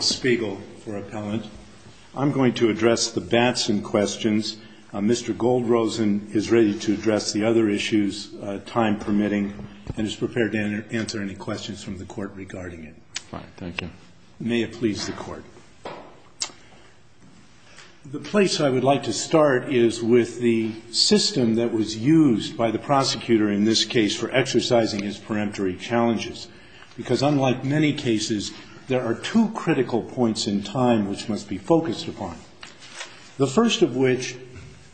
for appellant. I'm going to address the Batson questions. Mr. Goldrosen is ready to address the other issues, time permitting, and is prepared to answer any questions from the Court regarding it. Fine. Thank you. May it please the Court. The place I would like to start is with the system that was used by the prosecutor in this case for exercising his peremptory challenges. Because unlike many cases, there are two critical points in time which must be focused upon. The first of which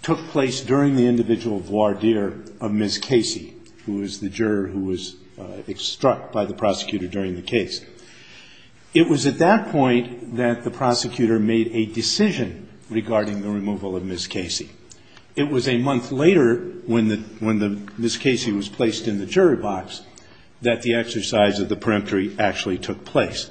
took place during the individual voir dire of Ms. Casey, who was the juror who was extruct by the prosecutor during the case. It was at that point that the prosecutor made a decision regarding the removal of Ms. Casey. It was a month later when the Ms. Casey was placed in the jury box that the exercise of the peremptory actually took place.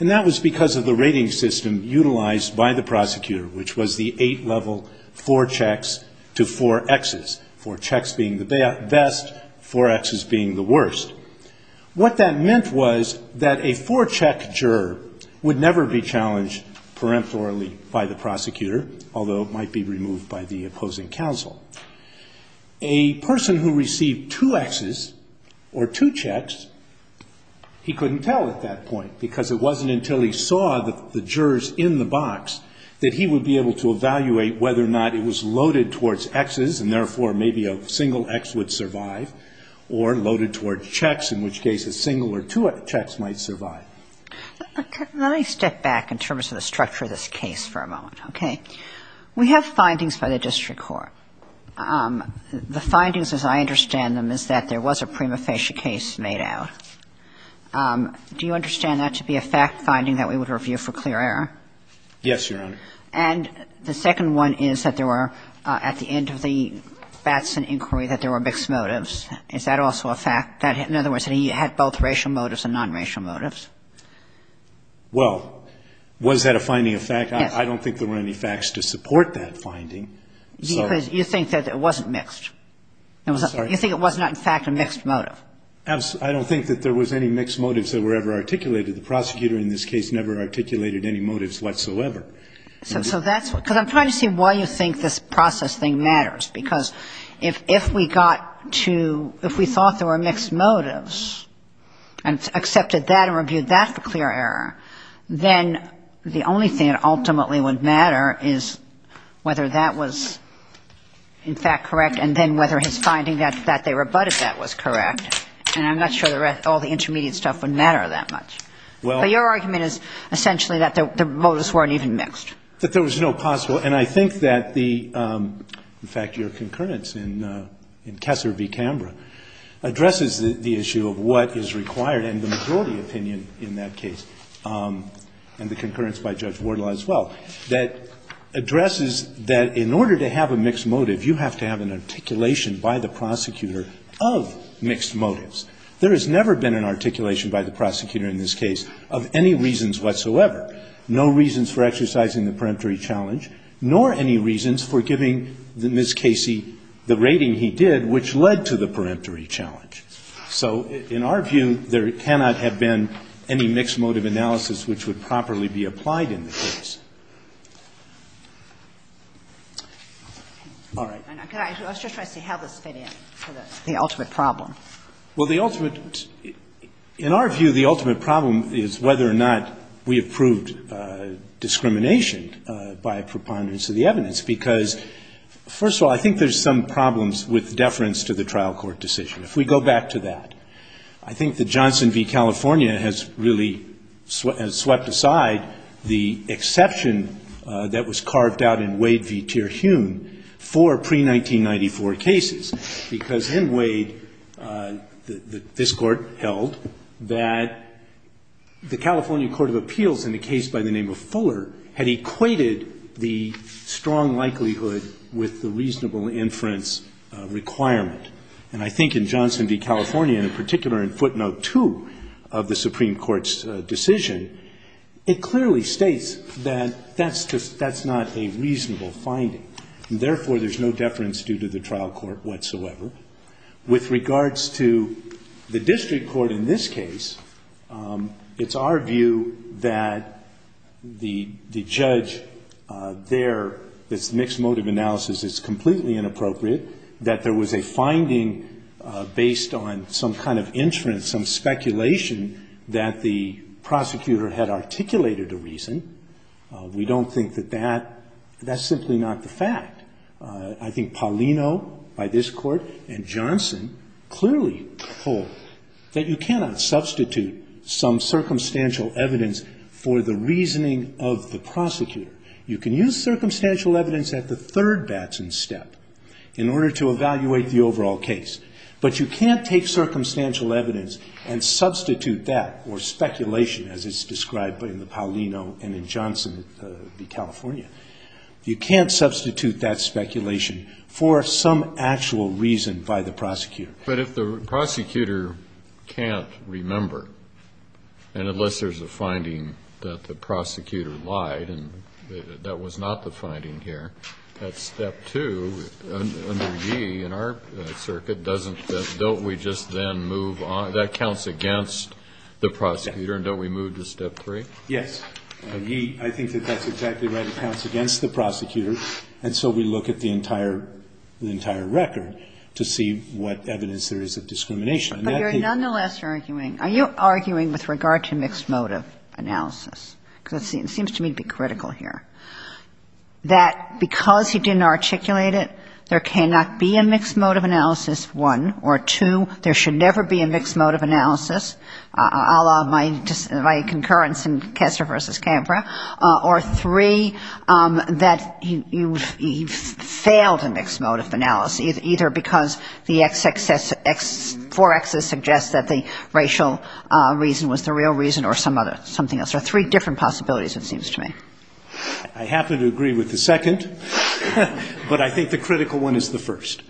And that was because of the rating system utilized by the prosecutor, which was the eight-level four checks to four Xs. Four checks being the best, four Xs being the worst. What that meant was that a four-check juror would never be challenged peremptorily by the prosecutor, although it might be removed by the prosecutor. And if the juror received two Xs or two checks, he couldn't tell at that point, because it wasn't until he saw the jurors in the box that he would be able to evaluate whether or not it was loaded towards Xs, and therefore maybe a single X would survive, or loaded towards checks, in which case a single or two checks might survive. Let me step back in terms of the structure of this case for a moment, okay? We have findings by the district court. The findings, as I understand them, is that there was a prima facie case made out. Do you understand that to be a fact-finding that we would review for clear error? Yes, Your Honor. And the second one is that there were, at the end of the Batson inquiry, that there were mixed motives. Is that also a fact that, in other words, that he had both racial motives and non-racial motives? Well, was that a finding of fact? Yes. I don't think there were any facts to support that finding. Because you think that it wasn't mixed. You think it was not, in fact, a mixed motive. I don't think that there was any mixed motives that were ever articulated. The prosecutor in this case never articulated any motives whatsoever. So that's what – because I'm trying to see why you think this process thing matters, because if we got to – if we thought there were mixed motives and accepted that and reviewed that for clear error, then the only thing that ultimately would matter is whether that was, in fact, correct, and then whether his finding that they rebutted that was correct. And I'm not sure all the intermediate stuff would matter that much. But your argument is essentially that the motives weren't even mixed. That there was no possible – and I think that the – in fact, your opinion in that case, and the concurrence by Judge Wardle as well, that addresses that in order to have a mixed motive, you have to have an articulation by the prosecutor of mixed motives. There has never been an articulation by the prosecutor in this case of any reasons whatsoever, no reasons for exercising the peremptory challenge, nor any reasons for giving Ms. Casey the rating he did, which led to the peremptory challenge. So in our view, there cannot have been any mixed motive analysis which would properly be applied in the case. All right. And I was just trying to see how this fit in to the ultimate problem. Well, the ultimate – in our view, the ultimate problem is whether or not we approved discrimination by a preponderance of the evidence, because, first of all, I think there's some problems with deference to the trial court decision, if we go back to that. I think that Johnson v. California has really swept aside the exception that was carved out in Wade v. Terhune for pre-1994 cases, because in Wade, this court held that the California Court of Appeals in a case by the name of Fuller had equated the strong likelihood with the reasonable inference requirement. And I think in Johnson v. California, and in particular in footnote 2 of the Supreme Court's decision, it clearly states that that's just – that's not a reasonable finding, and therefore, there's no deference due to the trial court whatsoever. With regards to the district court in this case, it's our view that the judge has there – this mixed motive analysis is completely inappropriate, that there was a finding based on some kind of inference, some speculation that the prosecutor had articulated a reason. We don't think that that – that's simply not the fact. I think Paulino, by this court, and Johnson clearly hold that you cannot substitute some circumstantial evidence for the reasoning of the prosecutor. You can use circumstantial evidence at the third batch and step in order to evaluate the overall case, but you can't take circumstantial evidence and substitute that, or speculation as it's described in the Paulino and in Johnson v. California. You can't substitute that speculation for some actual reason by the prosecutor. But if the prosecutor can't remember, and unless there's a finding that the prosecutor lied, and that was not the finding here, at step two, under Yee, in our circuit, doesn't – don't we just then move on – that counts against the prosecutor and don't we move to step three? Yes. Yee, I think that that's exactly right. It counts against the prosecutor, and so we look at the entire – the entire record to see what evidence there is of discrimination. But you're nonetheless arguing – are you arguing with regard to mixed motive analysis? Because it seems to me to be critical here, that because he didn't articulate it, there cannot be a mixed motive analysis, one, or two, there should never be a mixed motive analysis, a la my concurrence in Kessler v. Canberra, or three, that he failed a mixed motive analysis. Either because the x excess – four x's suggest that the racial reason was the real reason, or something else. There are three different possibilities, it seems to me. I happen to agree with the second, but I think the critical one is the first,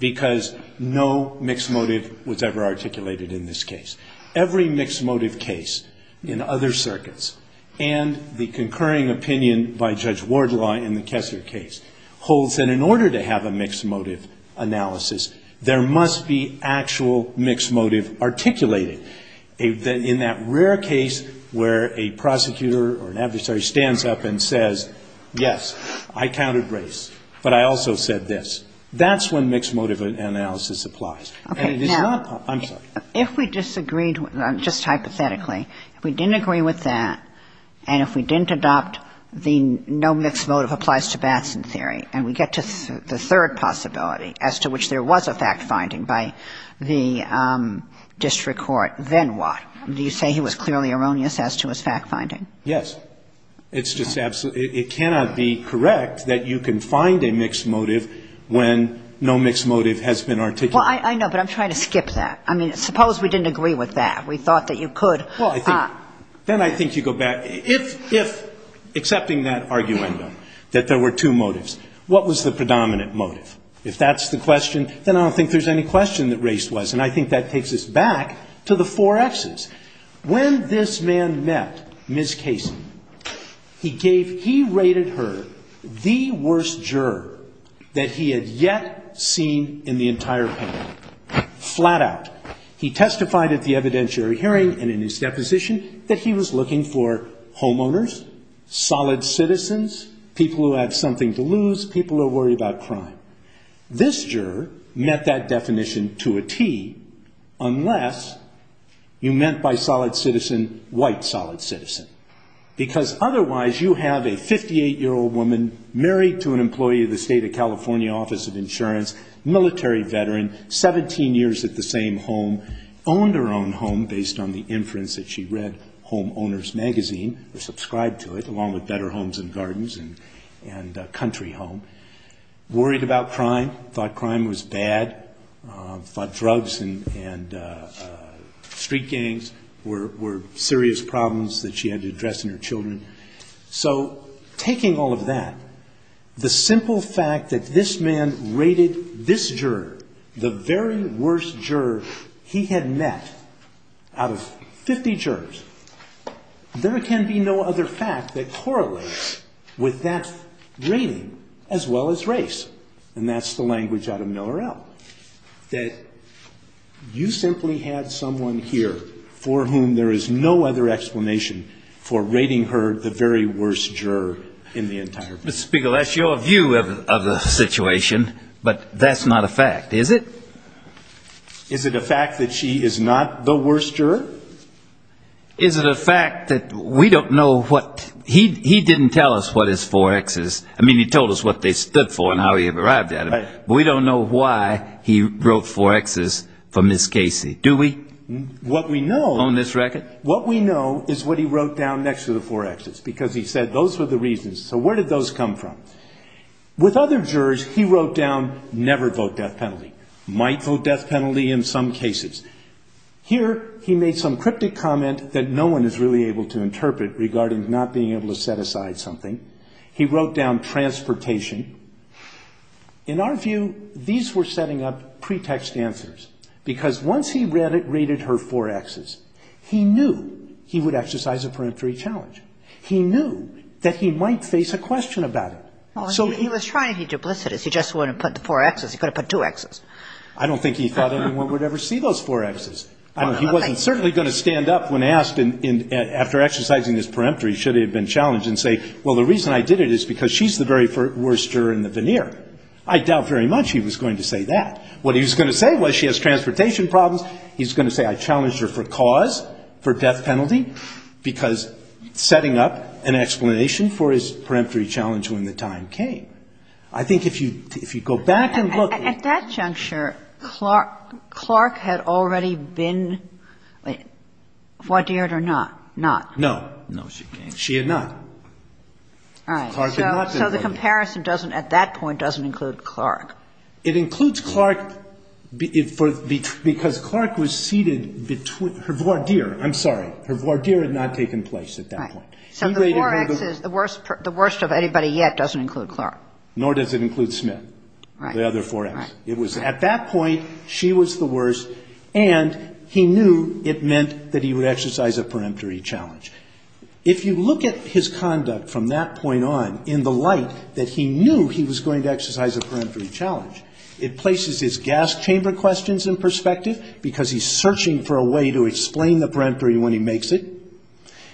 because no mixed motive was ever articulated in this case. Every mixed motive case in other circuits, and the concurring opinion by Judge Wardlaw in the Kessler case, holds that in order to have a mixed motive analysis, there must be actual mixed motive articulated. In that rare case where a prosecutor or an adversary stands up and says, yes, I counted race, but I also said this, that's when mixed motive analysis applies. And it is not – I'm sorry. If we disagreed, just hypothetically, if we didn't agree with that, and if we didn't adopt the no mixed motive applies to Batson theory, and we get to the third possibility, as to which there was a fact-finding by the district court, then what? Do you say he was clearly erroneous as to his fact-finding? Yes. It's just absolutely – it cannot be correct that you can find a mixed motive when no mixed motive has been articulated. Well, I know, but I'm trying to skip that. I mean, suppose we didn't agree with that. We thought that you could – Well, I think – then I think you go back – if accepting that argument, that there were two motives, what was the predominant motive? If that's the question, then I don't think there's any question that race was. And I think that takes us back to the four X's. When this man met Ms. Casey, he gave – he rated her the worst juror that he had yet seen in the entire panel, flat out. He testified at the evidentiary hearing and in his deposition that he was looking for homeowners, solid citizens, people who have something to lose, people who worry about crime. This juror met that definition to a T, unless you meant by solid citizen, white solid citizen. Because otherwise, you have a 58-year-old woman married to an employee of the State of California Office of Insurance, military veteran, 17 years at the same home, owned her own home based on the inference that she read Homeowners Magazine or subscribed to it, along with Better Homes and Gardens and Country Home, worried about crime, thought crime was bad, thought drugs and street gangs were serious problems that she had to address in her children. So taking all of that, the simple fact that this man rated this juror the very worst juror he had met out of 50 jurors, there can be no other fact that correlates with that rating as well as race. And that's the language out of Miller-El, that you simply had someone here for whom there is no other explanation for rating her the very worst juror in the entire book. Mr. Spiegel, that's your view of the situation, but that's not a fact, is it? Is it a fact that she is not the worst juror? Is it a fact that we don't know what, he didn't tell us what his four X's, I mean, he told us what they stood for and how he arrived at it, but we don't know why he wrote four X's for Ms. Casey, do we? What we know... On this record? What we know is what he wrote down next to the four X's, because he said those were the reasons. So where did those come from? With other jurors, he wrote down, never vote death penalty, might vote death penalty in some cases. Here, he made some cryptic comment that no one is really able to interpret regarding not being able to set aside something. He wrote down transportation. In our view, these were setting up pretext answers, because once he read it, rated her four X's, he knew he would exercise a peremptory challenge. He knew that he might face a question about it. So he... He was trying to be duplicitous. He just wouldn't put the four X's. He could have put two X's. I don't think he thought anyone would ever see those four X's. He wasn't certainly going to stand up when asked after exercising his peremptory, should he have been challenged, and say, well, the reason I did it is because she's the very worst juror in the veneer. I doubt very much he was going to say that. What he was going to say was, she has transportation problems. He's going to say, I challenged her for cause, for death penalty, because setting up an explanation for his peremptory challenge when the time came. I think if you go back and look... At that juncture, Clark had already been... What, dared or not? Not. No. No, she can't. She had not. All right. So the comparison at that point doesn't include Clark. It includes Clark because Clark was seated between... Her voir dire, I'm sorry. Her voir dire had not taken place at that point. So the four X's, the worst of anybody yet doesn't include Clark. Nor does it include Smith, the other four X's. It was at that point, she was the worst, and he knew it meant that he would exercise a peremptory challenge. If you look at his conduct from that point on in the light that he knew he was going to exercise a peremptory challenge, it places his gas chamber questions in perspective because he's searching for a way to explain the peremptory when he makes it.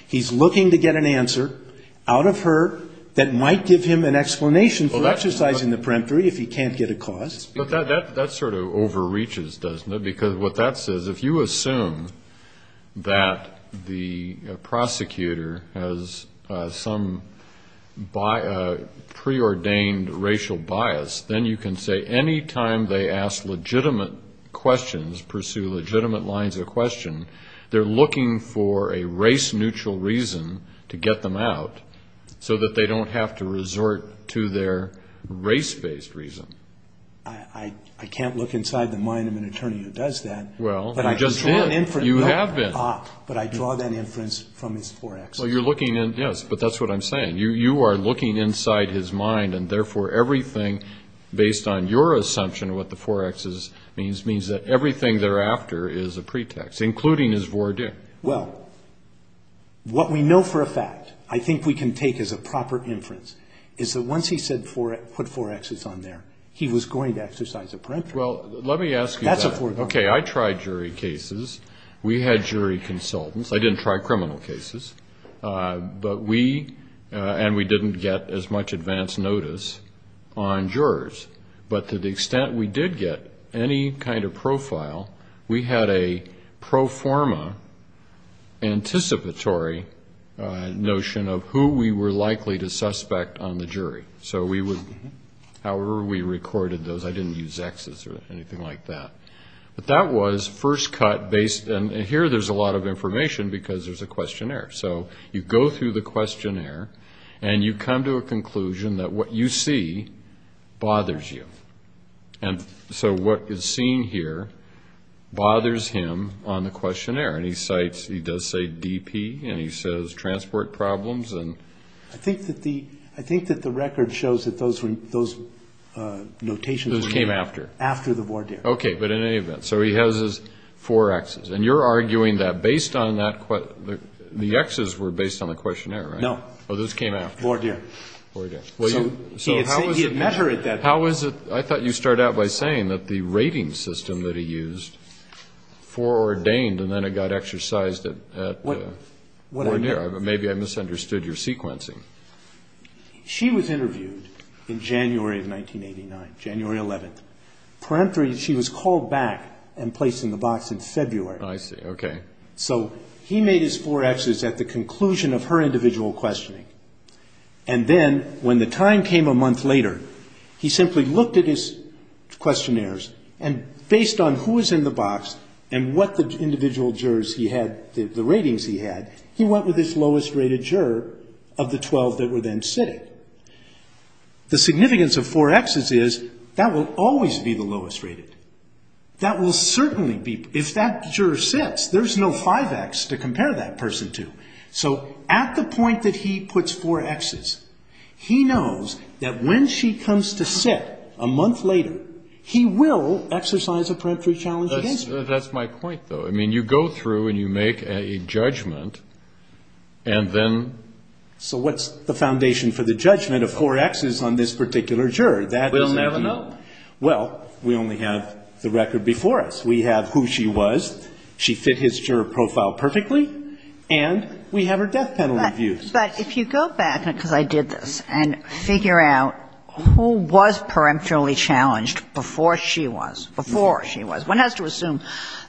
He's looking to get an answer out of her that might give him an explanation for exercising the peremptory if he can't get a cause. But that sort of overreaches, doesn't it? Because what that says, if you assume that the prosecutor has some preordained racial bias, then you can say any time they ask legitimate questions, pursue legitimate lines of question, they're looking for a race-neutral reason to get them out so that they don't have to resort to their race-based reason. I can't look inside the mind of an attorney who does that. Well, you just did. You have been. But I draw that inference from his forex. Yes, but that's what I'm saying. You are looking inside his mind, and therefore everything, based on your assumption of what the forex is, means that everything thereafter is a pretext, including his voir dire. Well, what we know for a fact, I think we can take as a proper inference, is that once he said put forexes on there, he was going to exercise a peremptory. Well, let me ask you that. That's a forex. Okay, I tried jury cases. We had jury consultants. I didn't try criminal cases. But we, and we didn't get as much advance notice on jurors. But to the extent we did get any kind of profile, we had a pro forma anticipatory notion of who we were likely to suspect on the jury. So we would, however we recorded those, I didn't use Xs or anything like that. But that was first cut based, and here there's a lot of information because there's a questionnaire. So you go through the questionnaire, and you come to a conclusion that what you see bothers you. And so what is seen here bothers him on the questionnaire. And he cites, he does say DP, and he says transport problems. I think that the record shows that those notations came after. After the voir dire. Okay, but in any event. So he has his forexes. And you're arguing that based on that, the Xs were based on the questionnaire, right? No. Oh, those came after. Voir dire. Voir dire. So he had met her at that point. How is it, I thought you started out by saying that the rating system that he used foreordained, and then it got exercised at voir dire. Maybe I misunderstood your sequencing. She was interviewed in January of 1989, January 11th. Parenthetically, she was called back and placed in the box in February. I see. Okay. So he made his forexes at the conclusion of her individual questioning. And then when the time came a month later, he simply looked at his forexes. And based on who was in the box and what the individual jurors he had, the ratings he had, he went with his lowest rated juror of the 12 that were then sitting. The significance of forexes is that will always be the lowest rated. That will certainly be, if that juror sits, there's no 5X to compare that person to. So at the point that he puts forexes, he knows that when she comes to court, she's going to have a preemptory challenge against her. That's my point, though. I mean, you go through and you make a judgment, and then... So what's the foundation for the judgment of forexes on this particular juror? We'll never know. Well, we only have the record before us. We have who she was, she fit his juror profile perfectly, and we have her death penalty views. But if you go back, because I did this, and figure out who was before she was. One has to assume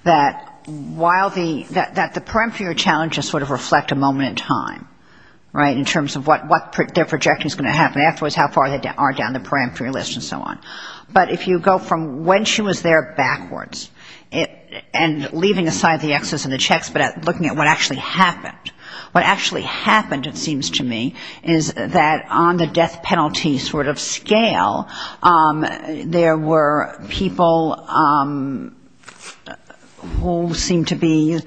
that while the, that the preemptory challenges sort of reflect a moment in time, right, in terms of what their projection is going to happen afterwards, how far they are down the preemptory list and so on. But if you go from when she was there backwards, and leaving aside the excess of the checks, but looking at what actually happened. What actually happened, it seems to me, is that on the death penalty sort of scale, there were people who seemed to be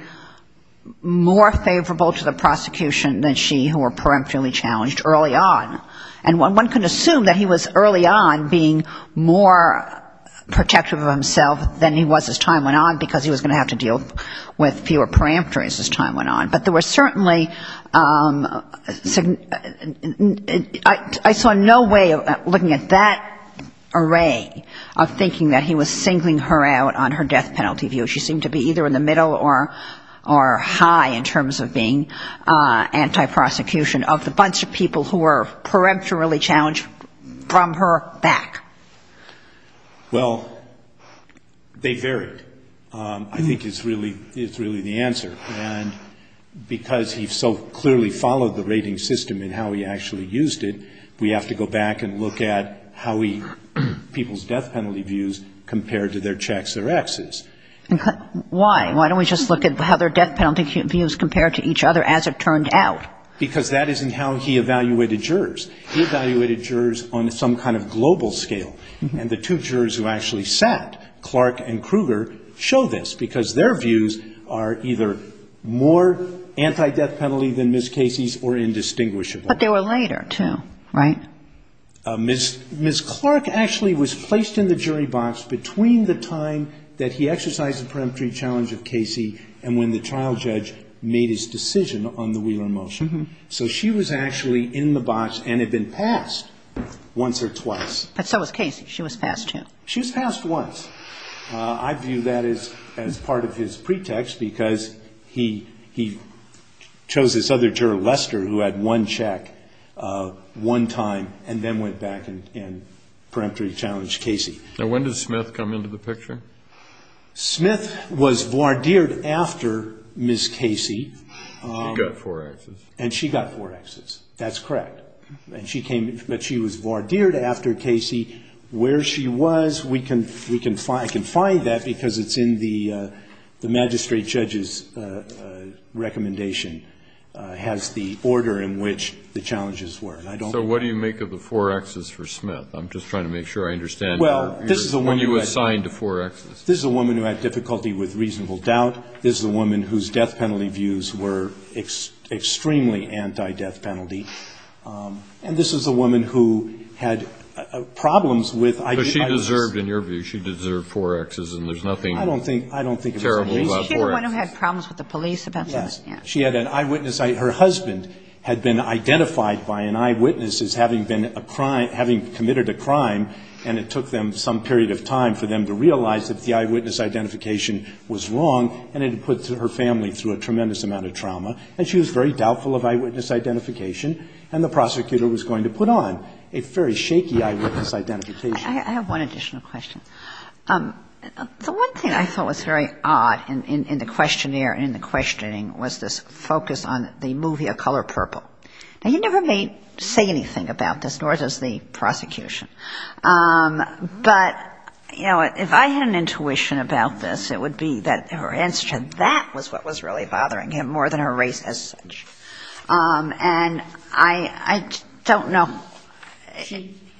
more favorable to the prosecution than she who were preemptorily challenged early on. And one can assume that he was early on being more protective of himself than he was as time went on, because he was going to have to deal with fewer preemptories as time went on. But there was certainly, I saw no way of looking at that array of thinking that he was singling her out on her death penalty view. She seemed to be either in the middle or high in terms of being anti-prosecution of the bunch of people who were preemptorily challenged from her back. Well, they varied. I think it's really, it's really the answer. And I don't think it's the answer. Because he so clearly followed the rating system and how he actually used it, we have to go back and look at how people's death penalty views compared to their checks or Xs. Why? Why don't we just look at how their death penalty views compared to each other as it turned out? Because that isn't how he evaluated jurors. He evaluated jurors on some kind of global scale. And the two jurors who actually sat, Clark and Kruger, show this, because their views are either more anti-death penalty than Ms. Casey's or indistinguishable. But they were later, too, right? Ms. Clark actually was placed in the jury box between the time that he exercised the preemptory challenge of Casey and when the trial judge made his decision on the Wheeler motion. So she was actually in the box and had been passed once or twice. And so was Casey. She was passed, too. She was passed once. I view that as part of his pretext because he chose this other juror, Lester, who had one check one time and then went back and preemptory challenged Casey. Now, when did Smith come into the picture? Smith was voir dired after Ms. Casey. She got four Xs. And she got four Xs. That's correct. But she was voir dired after Casey. Where she was, we can find that because it's in the magistrate judge's recommendation, has the order in which the challenges were. So what do you make of the four Xs for Smith? I'm just trying to make sure I understand when you assigned the four Xs. This is a woman who had difficulty with reasonable doubt. This is a woman whose death penalty views were extremely anti-death penalty. And this is a woman who had problems with. Because she deserved, in your view, she deserved four Xs and there's nothing terrible about four Xs. I don't think it was a reason. She had one who had problems with the police about something. Yes. She had an eyewitness. Her husband had been identified by an eyewitness as having been a crime, having committed a crime, and it took them some period of time for them to realize that the eyewitness identification was wrong. And it had put her family through a tremendous amount of trauma. And she was very doubtful of eyewitness identification. And the prosecutor was going to put on a very shaky eyewitness identification. I have one additional question. The one thing I thought was very odd in the questionnaire and in the questioning was this focus on the movie A Color Purple. Now, you never may say anything about this, nor does the prosecution. But, you know, if I had an intuition about this, it would be that her answer to that was what was really bothering him more than her race as such. And I don't know.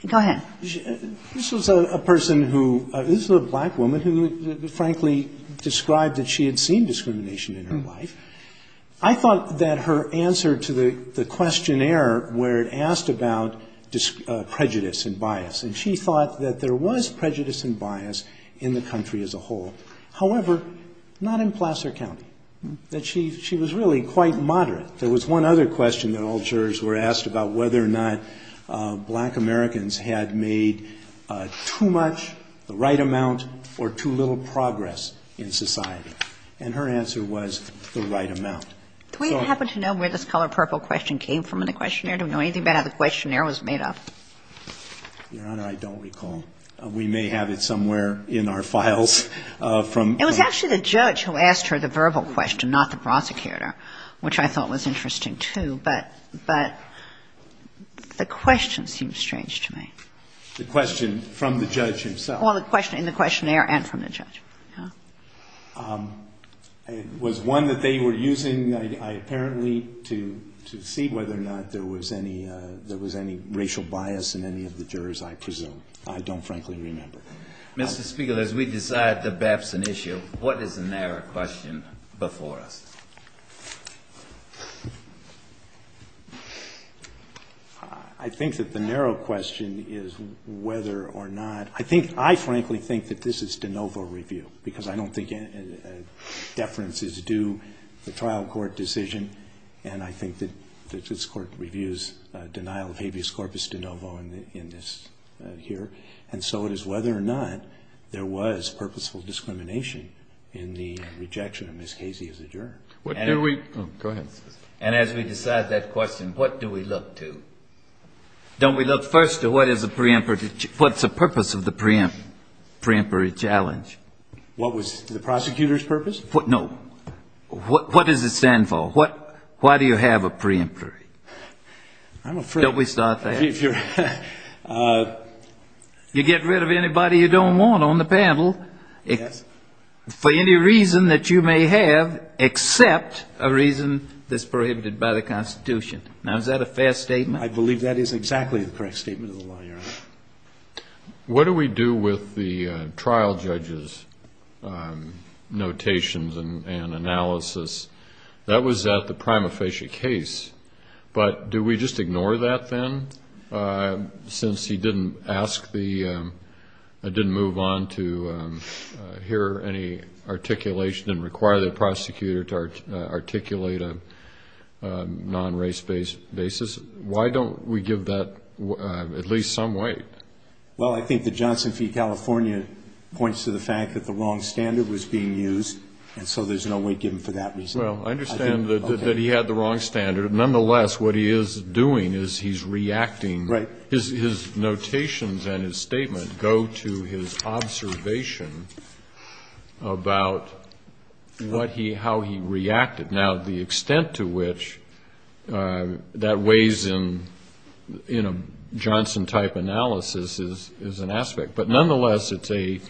Go ahead. This was a person who, this was a black woman who, frankly, described that she had seen discrimination in her life. I thought that her answer to the questionnaire where it asked about prejudice and bias, and she thought that there was prejudice and bias in the country as a whole. However, not in Placer County. She was really quite moderate. There was one other question that all jurors were asked about whether or not black Americans had made too much, the right amount, or too little progress in society. And her answer was the right amount. Do we happen to know where this Color Purple question came from in the questionnaire? Do we know anything about how the questionnaire was made up? Your Honor, I don't recall. We may have it somewhere in our files. It was actually the judge who asked her the verbal question, not the prosecutor, which I thought was interesting, too. But the question seemed strange to me. The question from the judge himself? Well, in the questionnaire and from the judge. It was one that they were using, apparently, to see whether or not there was any racial bias in any of the jurors, I presume. I don't frankly remember. Mr. Spiegel, as we decide the Babson issue, what is the narrow question before us? I think that the narrow question is whether or not. I think, I frankly think that this is de novo review, because I don't think deference is due to the trial court decision. And I think that this Court reviews denial of habeas corpus de novo in this here. And so it is whether or not there was purposeful discrimination in the rejection of Ms. Casey as a juror. Go ahead. And as we decide that question, what do we look to? Don't we look first to what is a preemptory, what's the purpose of the preemptory challenge? What was the prosecutor's purpose? No. What does it stand for? Why do you have a preemptory? I'm afraid. Don't we start there? You get rid of anybody you don't want on the panel for any reason that you may have, except a reason that's prohibited by the Constitution. Now, is that a fair statement? I believe that is exactly the correct statement of the law, Your Honor. What do we do with the trial judge's notations and analysis? That was at the prima facie case. But do we just ignore that then, since he didn't ask the, didn't move on to hear any articulation and require the prosecutor to articulate a non-race basis? Why don't we give that at least some weight? Well, I think the Johnson v. California points to the fact that the wrong standard was being used, and so there's no weight given for that reason. Well, I understand that he had the wrong standard. But nonetheless, what he is doing is he's reacting. Right. His notations and his statement go to his observation about what he, how he reacted. Now, the extent to which that weighs in, in a Johnson-type analysis is an aspect. But nonetheless, it's a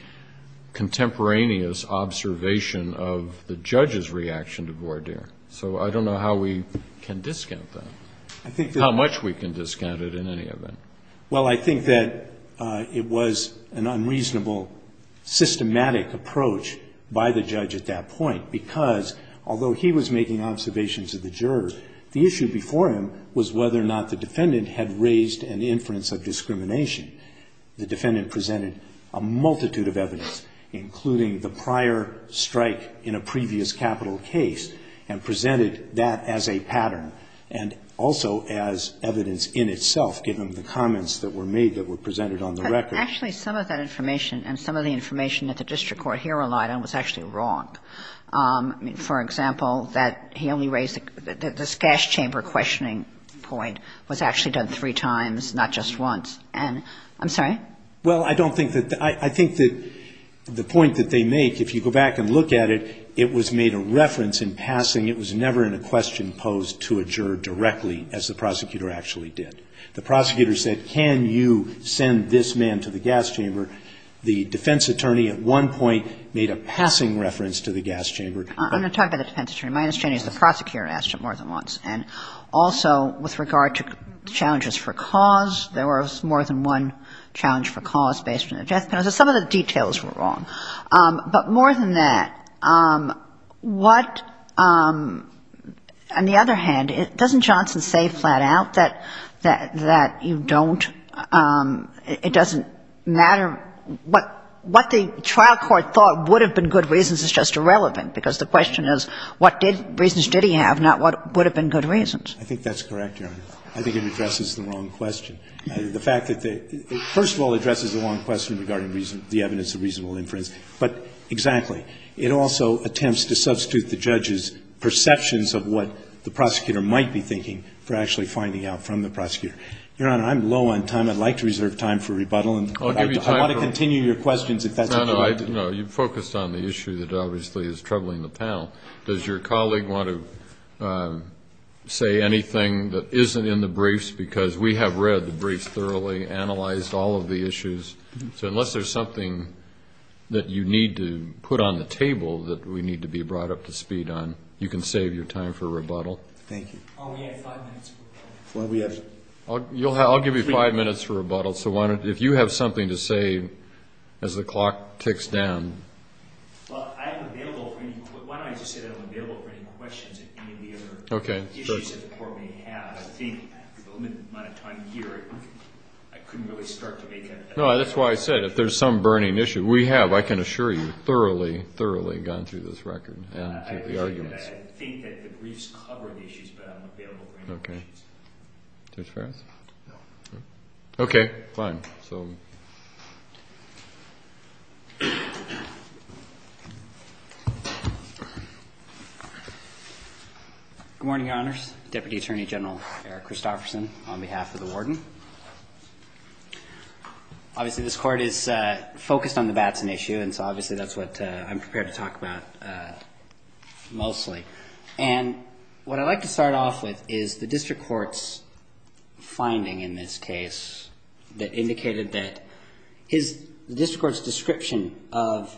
contemporaneous observation of the judge's reaction to voir dire. So I don't know how we can discount that, how much we can discount it in any event. Well, I think that it was an unreasonable, systematic approach by the judge at that point, because although he was making observations of the jurors, the issue before him was whether or not the defendant had raised an inference of discrimination. The defendant presented a multitude of evidence, including the prior strike in a previous capital case, and presented that as a pattern. And also as evidence in itself, given the comments that were made that were presented on the record. But actually, some of that information and some of the information that the district court here relied on was actually wrong. I mean, for example, that he only raised, that this gas chamber questioning point was actually done three times, not just once. And, I'm sorry? Well, I don't think that, I think that the point that they make, if you go back and look at it, it was made a reference in passing. It was never in a question posed to a juror directly, as the prosecutor actually did. The prosecutor said, can you send this man to the gas chamber? The defense attorney at one point made a passing reference to the gas chamber. I'm going to talk about the defense attorney. My understanding is the prosecutor asked him more than once. And also, with regard to challenges for cause, there was more than one challenge for cause based on the death penalty. So some of the details were wrong. But more than that, what, on the other hand, doesn't Johnson say flat out that you don't, it doesn't matter, what the trial court thought would have been good reasons is just irrelevant, because the question is what reasons did he have, not what would have been good reasons. I think that's correct, Your Honor. I think it addresses the wrong question. The fact that they, first of all, it addresses the wrong question regarding the evidence of reasonable inference. But exactly. It also attempts to substitute the judge's perceptions of what the prosecutor might be thinking for actually finding out from the prosecutor. Your Honor, I'm low on time. I'd like to reserve time for rebuttal. I want to continue your questions if that's okay with you. No, no. You focused on the issue that obviously is troubling the panel. Does your colleague want to say anything that isn't in the briefs? Because we have read the briefs thoroughly, analyzed all of the issues. So unless there's something that you need to put on the table that we need to be brought up to speed on, you can save your time for rebuttal. Thank you. We have five minutes for rebuttal. I'll give you five minutes for rebuttal. So if you have something to say as the clock ticks down. Well, I'm available. Why don't I just say that I'm available for any questions if any of the other issues that the court may have. I think with the limited amount of time here, I couldn't really start to make No, that's why I said if there's some burning issue. We have, I can assure you, thoroughly, thoroughly gone through this record and the arguments. I think that the briefs cover the issues, but I'm available for any questions. Okay. Judge Farris? No. Okay. Fine. Good morning, Your Honors. Deputy Attorney General Eric Christofferson on behalf of the warden. Obviously, this court is focused on the Batson issue, and so obviously, that's what I'm prepared to talk about mostly. And what I'd like to start off with is the district court's finding in this case that indicated that the district court's description of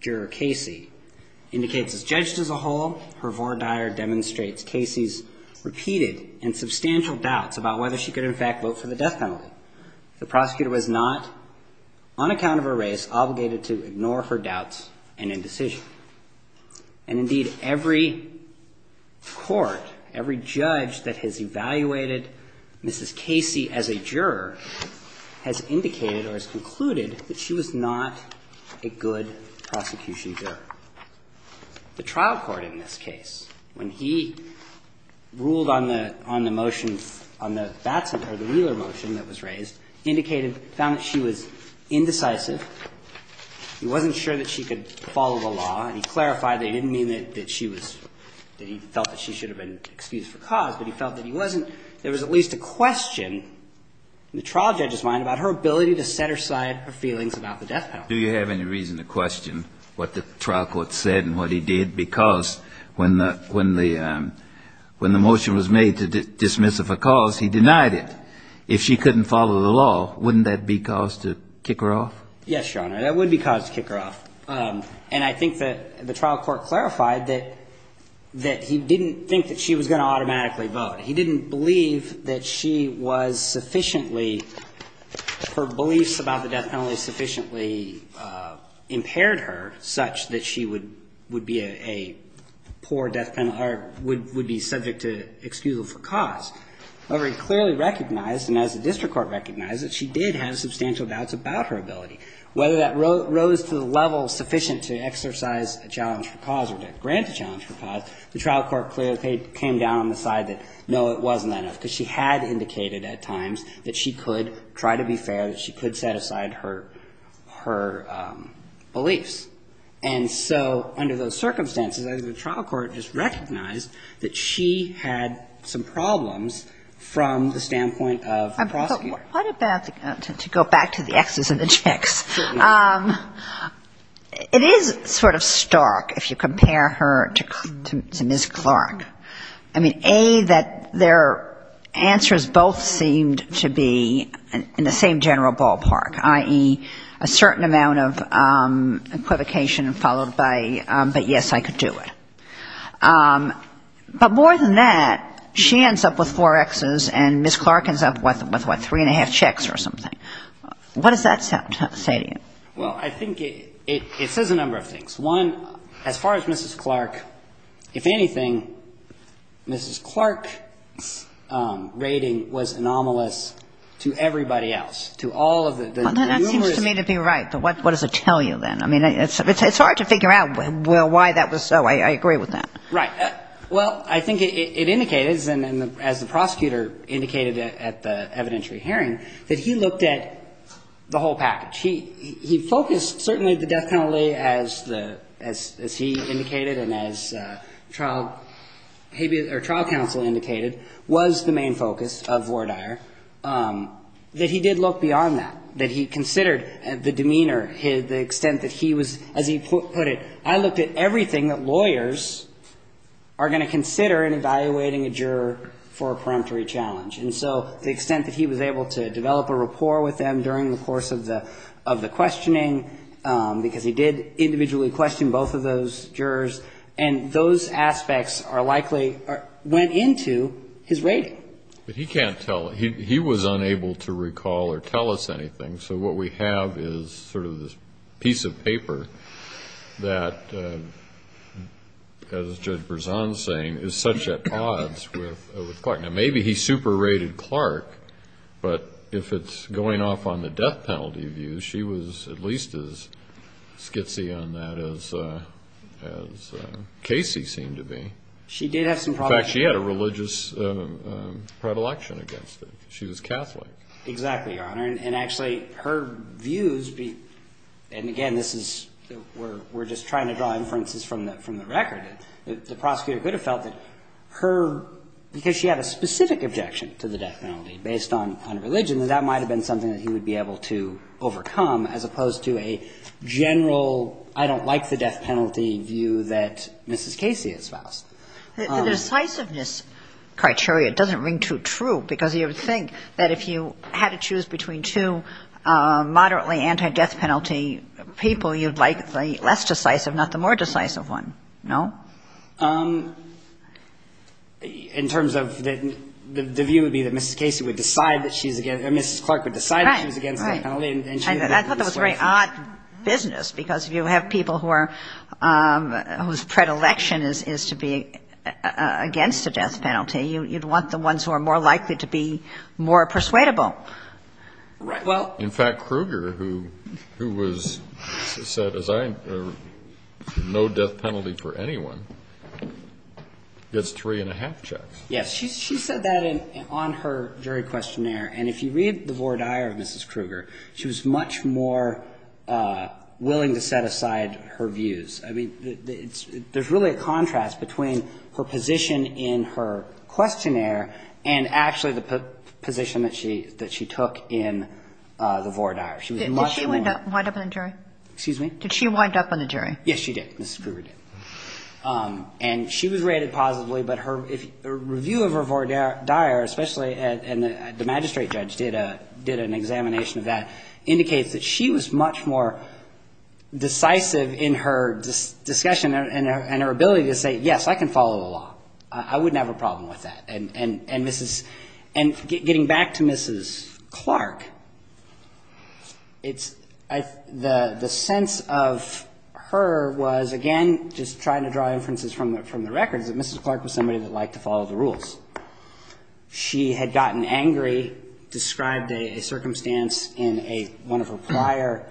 Juror Casey indicates as judged as a whole, her voir dire demonstrates Casey's repeated and substantial doubts about whether she could, in fact, vote for the death penalty. The prosecutor was not, on account of her race, obligated to ignore her doubts and indecision. And indeed, every court, every judge that has evaluated Mrs. Casey as a juror has indicated or has concluded that she was not a good prosecution juror. The trial court in this case, when he ruled on the motion, on the Batson or the Wheeler motion that was raised, indicated, found that she was indecisive. He wasn't sure that she could follow the law, and he clarified that he didn't mean that she was, that he felt that she should have been excused for cause, but he felt that he wasn't, there was at least a question in the trial judge's mind about her ability to set aside her feelings about the death penalty. Do you have any reason to question what the trial court said and what he did? Because when the motion was made to dismiss her for cause, he denied it. If she couldn't follow the law, wouldn't that be cause to kick her off? Yes, Your Honor, that would be cause to kick her off. And I think that the trial court clarified that he didn't think that she was going to automatically vote. He didn't believe that she was sufficiently, her beliefs about the death penalty sufficiently impaired her such that she would be a poor death penalty or would be subject to excusal for cause. However, he clearly recognized, and as the district court recognized, that she did have substantial doubts about her ability. Whether that rose to the level sufficient to exercise a challenge for cause or to grant a challenge for cause, the trial court clearly came down on the side that, no, it wasn't that enough. Because she had indicated at times that she could try to be fair, that she could set aside her beliefs. And so under those circumstances, the trial court just recognized that she had some problems from the standpoint of the prosecutor. What about, to go back to the exes and the chicks, it is sort of stark if you compare her to Ms. Clark. I mean, A, that their answers both seemed to be in the same general ballpark, i.e., a certain amount of equivocation followed by, but yes, I could do it. But more than that, she ends up with four Xs and Ms. Clark ends up with, what, three and a half chicks or something. What does that say to you? Well, I think it says a number of things. One, as far as Ms. Clark, if anything, Ms. Clark's rating was anomalous to everybody else, to all of the numerous. That seems to me to be right, but what does it tell you then? I mean, it's hard to figure out why that was so. I agree with that. Right. Well, I think it indicated, as the prosecutor indicated at the evidentiary hearing, that he looked at the whole package. He focused, certainly the death penalty, as he indicated and as trial counsel indicated, was the main focus of Vordaer, that he did look beyond that. That he considered the demeanor, the extent that he was, as he put it, I looked at everything that lawyers are going to consider in evaluating a juror for a peremptory challenge. And so the extent that he was able to develop a rapport with them during the course of the questioning, because he did individually question both of those jurors, and those aspects are likely, went into his rating. But he can't tell. He was unable to recall or tell us anything. So what we have is sort of this piece of paper that, as Judge Berzon is saying, is such at odds with Clark. Now, maybe he super-rated Clark, but if it's going off on the death penalty view, she was at least as skitzy on that as Casey seemed to be. She did have some problems. In fact, she had a religious predilection against it. She was Catholic. Exactly, Your Honor. And actually, her views, and again, this is, we're just trying to draw inferences from the record. The prosecutor could have felt that her, because she had a specific objection to the death penalty based on religion, that that might have been something that he would be able to overcome, as opposed to a general, I don't like the death penalty view that Mrs. Casey has passed. The decisiveness criteria doesn't ring too true, because you would think that if you had to choose between two moderately anti-death penalty people, you'd like the less decisive, not the more decisive one. No? In terms of, the view would be that Mrs. Casey would decide that she's against, Mrs. Clark would decide that she was against the death penalty. I thought that was very odd business, because if you have people whose predilection is to be against a death penalty, you'd want the ones who are more likely to be more persuadable. In fact, Kruger, who was said, as I, no death penalty for anyone, gets three and a half checks. Yes. She said that on her jury questionnaire, and if you read the voir dire of Mrs. Kruger, she was much more willing to set aside her views. I mean, there's really a contrast between her position in her questionnaire and actually the position that she took in the voir dire. Did she wind up on the jury? Excuse me? Did she wind up on the jury? Yes, she did. Mrs. Kruger did. And she was rated positively, but her review of her voir dire, especially, and the magistrate judge did an examination of that, indicates that she was much more decisive in her discussion and her ability to say, yes, I can follow the law. I wouldn't have a problem with that. And getting back to Mrs. Clark, the sense of her was, again, just trying to draw inferences from the records, that Mrs. Clark was somebody that liked to follow the rules. She had gotten angry, described a circumstance in one of her prior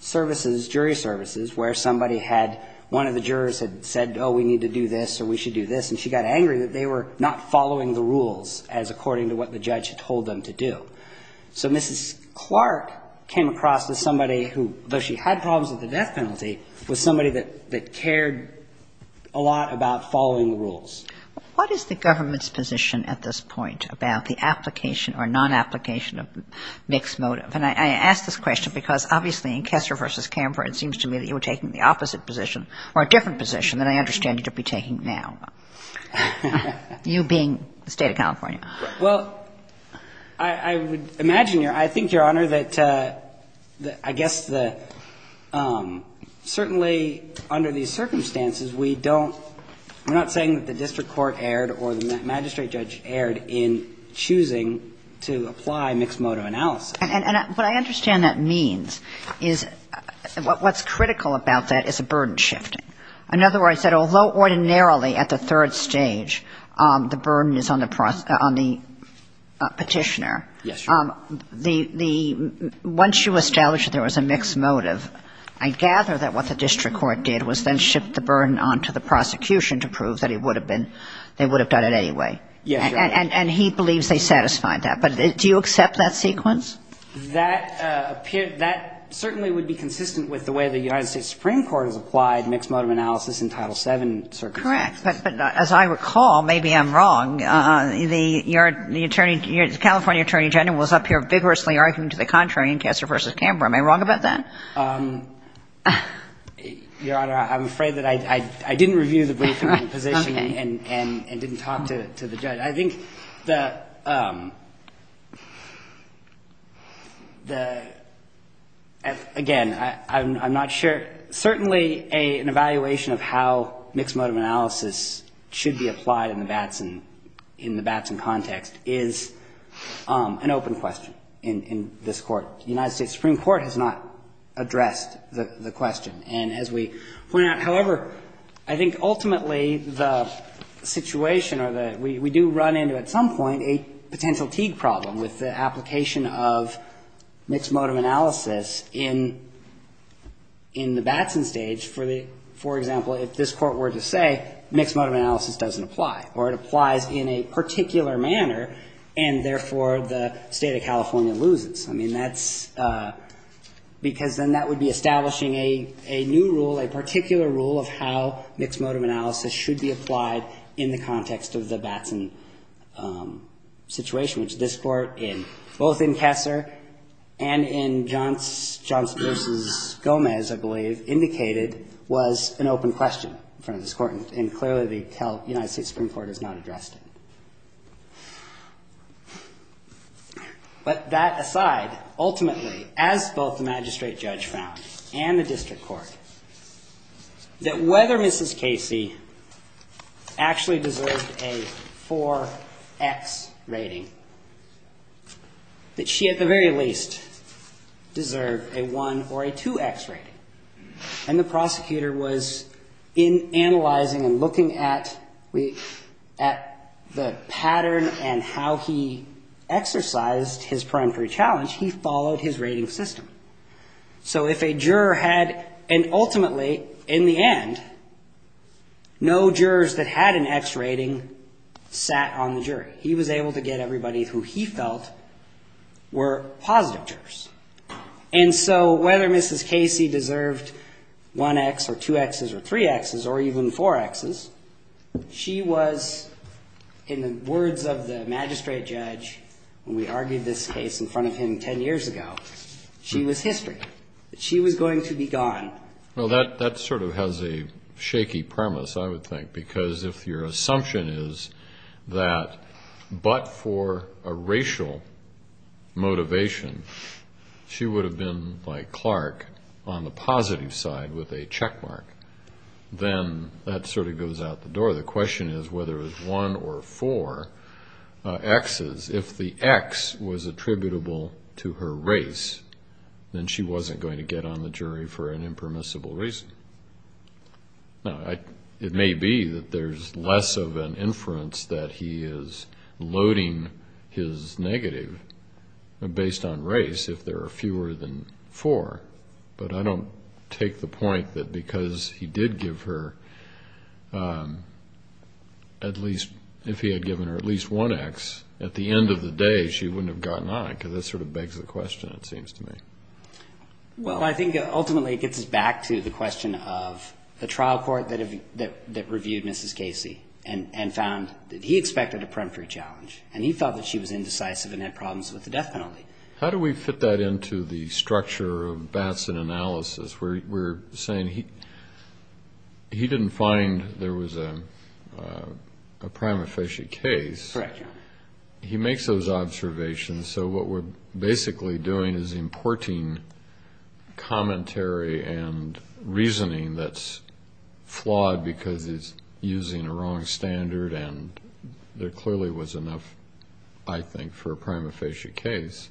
services, jury services, where somebody had, one of the jurors had said, oh, we need to do this or we should do this, and she got angry that they were not following the rules as according to what the judge had told them to do. So Mrs. Clark came across as somebody who, though she had problems with the death penalty, was somebody that cared a lot about following the rules. What is the government's position at this point about the application or non-application of mixed motive? And I ask this question because, obviously, in Kessler v. of mixed motive, and I'm not sure what the standard would be taking now. You being the state of California. Well, I would imagine, I think, Your Honor, that I guess the certainly under these circumstances, we don't, we're not saying that the district court erred or the magistrate judge erred in choosing to apply mixed motive analysis. And what I understand that means is, what's critical about that is a burden shifting. In other words, that although ordinarily at the third stage, the burden is on the petitioner. Yes, Your Honor. The, once you established that there was a mixed motive, I gather that what the district court did was then shift the burden onto the prosecution to prove that it would have been, they would have done it anyway. Yes, Your Honor. And he believes they satisfied that. But do you accept that sequence? That certainly would be consistent with the way the United States Supreme Court has applied mixed motive analysis in Title VII circumstances. Correct. But as I recall, maybe I'm wrong, the California attorney general was up here vigorously arguing to the contrary in Kessler v. Camber. Am I wrong about that? Your Honor, I'm afraid that I didn't review the briefing and the position and didn't talk to the judge. I think the, again, I'm not sure, certainly an evaluation of how mixed motive analysis should be applied in the Batson context is an open question in this Court. The United States Supreme Court has not addressed the question. And as we point out, however, I think ultimately the situation or the, we do run into at some point a potential Teague problem with the application of mixed motive analysis in the Batson stage for the, for example, if this Court were to say mixed motive analysis doesn't apply or it applies in a particular manner and therefore the state of California loses. I mean, that's because then that would be establishing a new rule, a particular rule of how mixed motive analysis should be applied in the context of the Batson situation, which this Court in, both in Kessler and in Johnson v. Gomez, I believe, indicated was an open question in front of this Court. And clearly the United States Supreme Court has not addressed it. But that aside, ultimately, as both the magistrate judge found and the district judge found in this Court, that whether Mrs. Casey actually deserved a 4X rating, that she at the very least deserved a 1 or a 2X rating. And the prosecutor was in analyzing and looking at the pattern and how he exercised his peremptory challenge, he followed his rating system. So if a juror had, and ultimately, in the end, no jurors that had an X rating sat on the jury, he was able to get everybody who he felt were positive jurors. And so whether Mrs. Casey deserved 1X or 2Xs or 3Xs or even 4Xs, she was, in the words of the magistrate judge, when we argued this case in front of him 10 years ago, she was history. She was going to be gone. Well, that sort of has a shaky premise, I would think, because if your assumption is that but for a racial motivation, she would have been, like Clark, on the positive side with a checkmark, then that sort of goes out the door. The question is whether it was 1 or 4Xs. If the X was attributable to her race, then she wasn't going to get on the jury for an impermissible reason. Now, it may be that there's less of an inference that he is loading his negative based on race if there are fewer than 4, but I don't take the point that because he did give her at least, if he had given her at least 1X, at the end of the day, she wouldn't have gotten on it, because that sort of begs the question, it seems to me. Well, I think ultimately it gets us back to the question of the trial court that reviewed Mrs. Casey and found that he expected a preemptory challenge, and he felt that she was indecisive and had problems with the death penalty. How do we fit that into the structure of Batson analysis? We're saying he didn't find there was a prima facie case. He makes those observations, so what we're basically doing is importing commentary and reasoning that's flawed because he's using a wrong standard, and there clearly was enough, I think, for a prima facie case.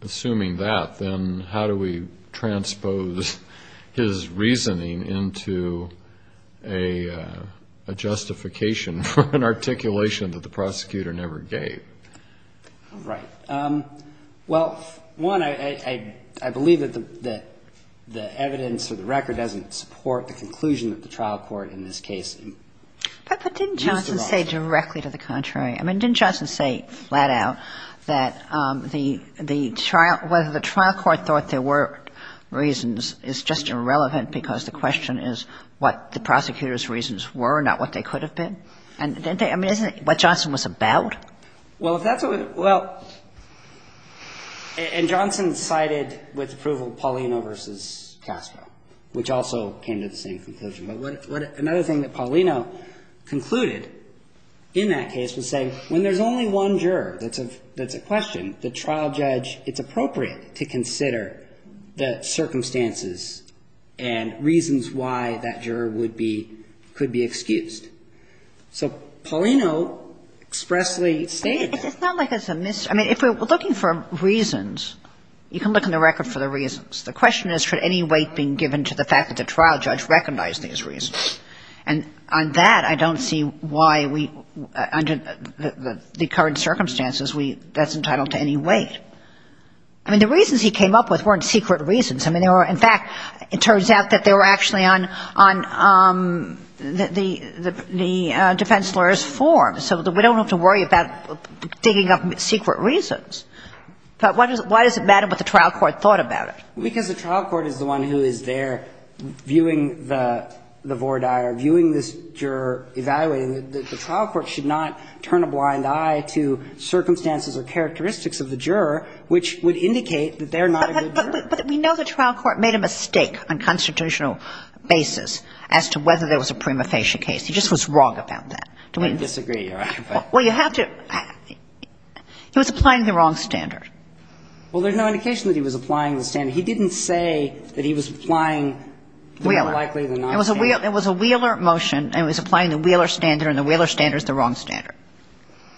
Assuming that, then how do we transpose his reasoning into a justification for an articulation that the prosecutor never gave? Right. Well, one, I believe that the evidence or the record doesn't support the conclusion that the trial court in this case used the wrong standard. But didn't Johnson say directly to the contrary? I mean, didn't Johnson say flat out that the trial, whether the trial court thought there were reasons is just irrelevant because the question is what the prosecutor's reasons were, not what they could have been? I mean, isn't that what Johnson was about? Well, if that's what, well, and Johnson sided with approval of Paulino versus Castro, which also came to the same conclusion. But another thing that Paulino concluded in that case was saying when there's only one juror that's a question, the trial judge, it's appropriate to consider the circumstances and reasons why that juror could be excused. So Paulino expressly stated that. It's not like it's a, I mean, if we're looking for reasons, you can look in the record for the reasons. The question is should any weight being given to the fact that the trial judge recognized these reasons. And on that, I don't see why we, under the current circumstances, we, that's entitled to any weight. I mean, the reasons he came up with weren't secret reasons. I mean, they were, in fact, it turns out that they were actually on the defense lawyer's form. So we don't have to worry about digging up secret reasons. But why does it matter what the trial court thought about it? Because the trial court is the one who is there viewing the voir dire, viewing this juror, evaluating it. The trial court should not turn a blind eye to circumstances or characteristics of the juror which would indicate that they're not a good juror. But we know the trial court made a mistake on a constitutional basis as to whether there was a prima facie case. He just was wrong about that. Do we disagree, Your Honor? Well, you have to. He was applying the wrong standard. Well, there's no indication that he was applying the standard. He didn't say that he was applying the more likely than not standard. It was a Wheeler motion, and it was applying the Wheeler standard, and the Wheeler standard is the wrong standard.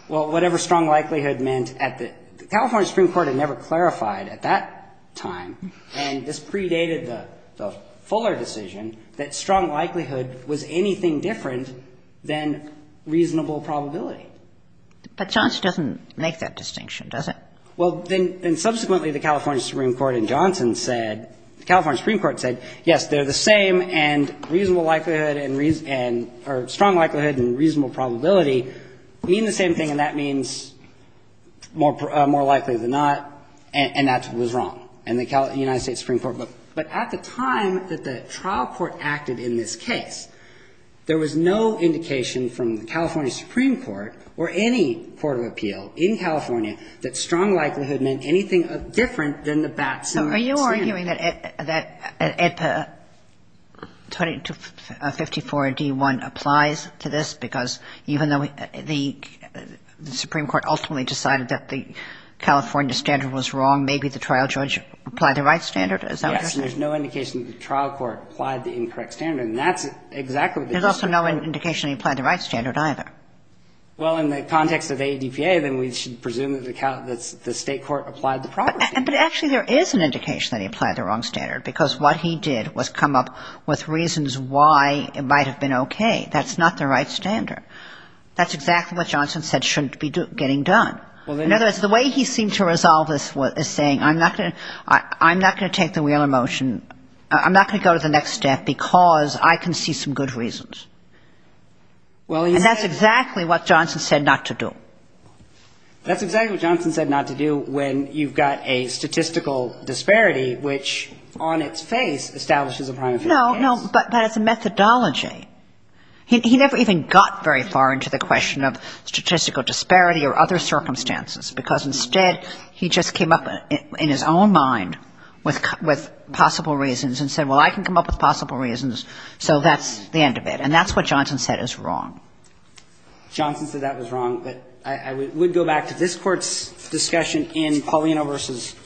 Well, whatever strong likelihood meant at the, the California Supreme Court had never clarified at that time, and this predated the Fuller decision, that strong likelihood was anything different than reasonable probability. But Johnson doesn't make that distinction, does he? Well, then subsequently the California Supreme Court and Johnson said, the California Supreme Court said, yes, they're the same, and reasonable likelihood and, or strong likelihood and reasonable probability mean the same thing, and that means more likely than not, and that was wrong. And the United States Supreme Court looked. But at the time that the trial court acted in this case, there was no indication from the California Supreme Court or any court of appeal in California that strong likelihood meant anything different than the Batson standard. So are you arguing that Edpa 2254d-1 applies to this because even though the Supreme Court ultimately decided that the California standard was wrong, maybe the trial judge applied the right standard? Is that what you're saying? Yes. And there's no indication that the trial court applied the incorrect standard, and that's exactly what they decided. There's also no indication that he applied the right standard either. Well, in the context of Edpa, then we should presume that the state court applied the proper standard. But actually there is an indication that he applied the wrong standard, because what he did was come up with reasons why it might have been okay. That's not the right standard. That's exactly what Johnson said shouldn't be getting done. In other words, the way he seemed to resolve this is saying, I'm not going to take the wheel in motion. I'm not going to go to the next step because I can see some good reasons. And that's exactly what Johnson said not to do. That's exactly what Johnson said not to do when you've got a statistical disparity which on its face establishes a primary case. No, no. But it's a methodology. He never even got very far into the question of statistical disparity or other circumstances, because instead he just came up in his own mind with possible reasons and said, well, I can come up with possible reasons, so that's the end of it. And that's what Johnson said is wrong. Johnson said that was wrong. But I would go back to this Court's discussion in Paulino v.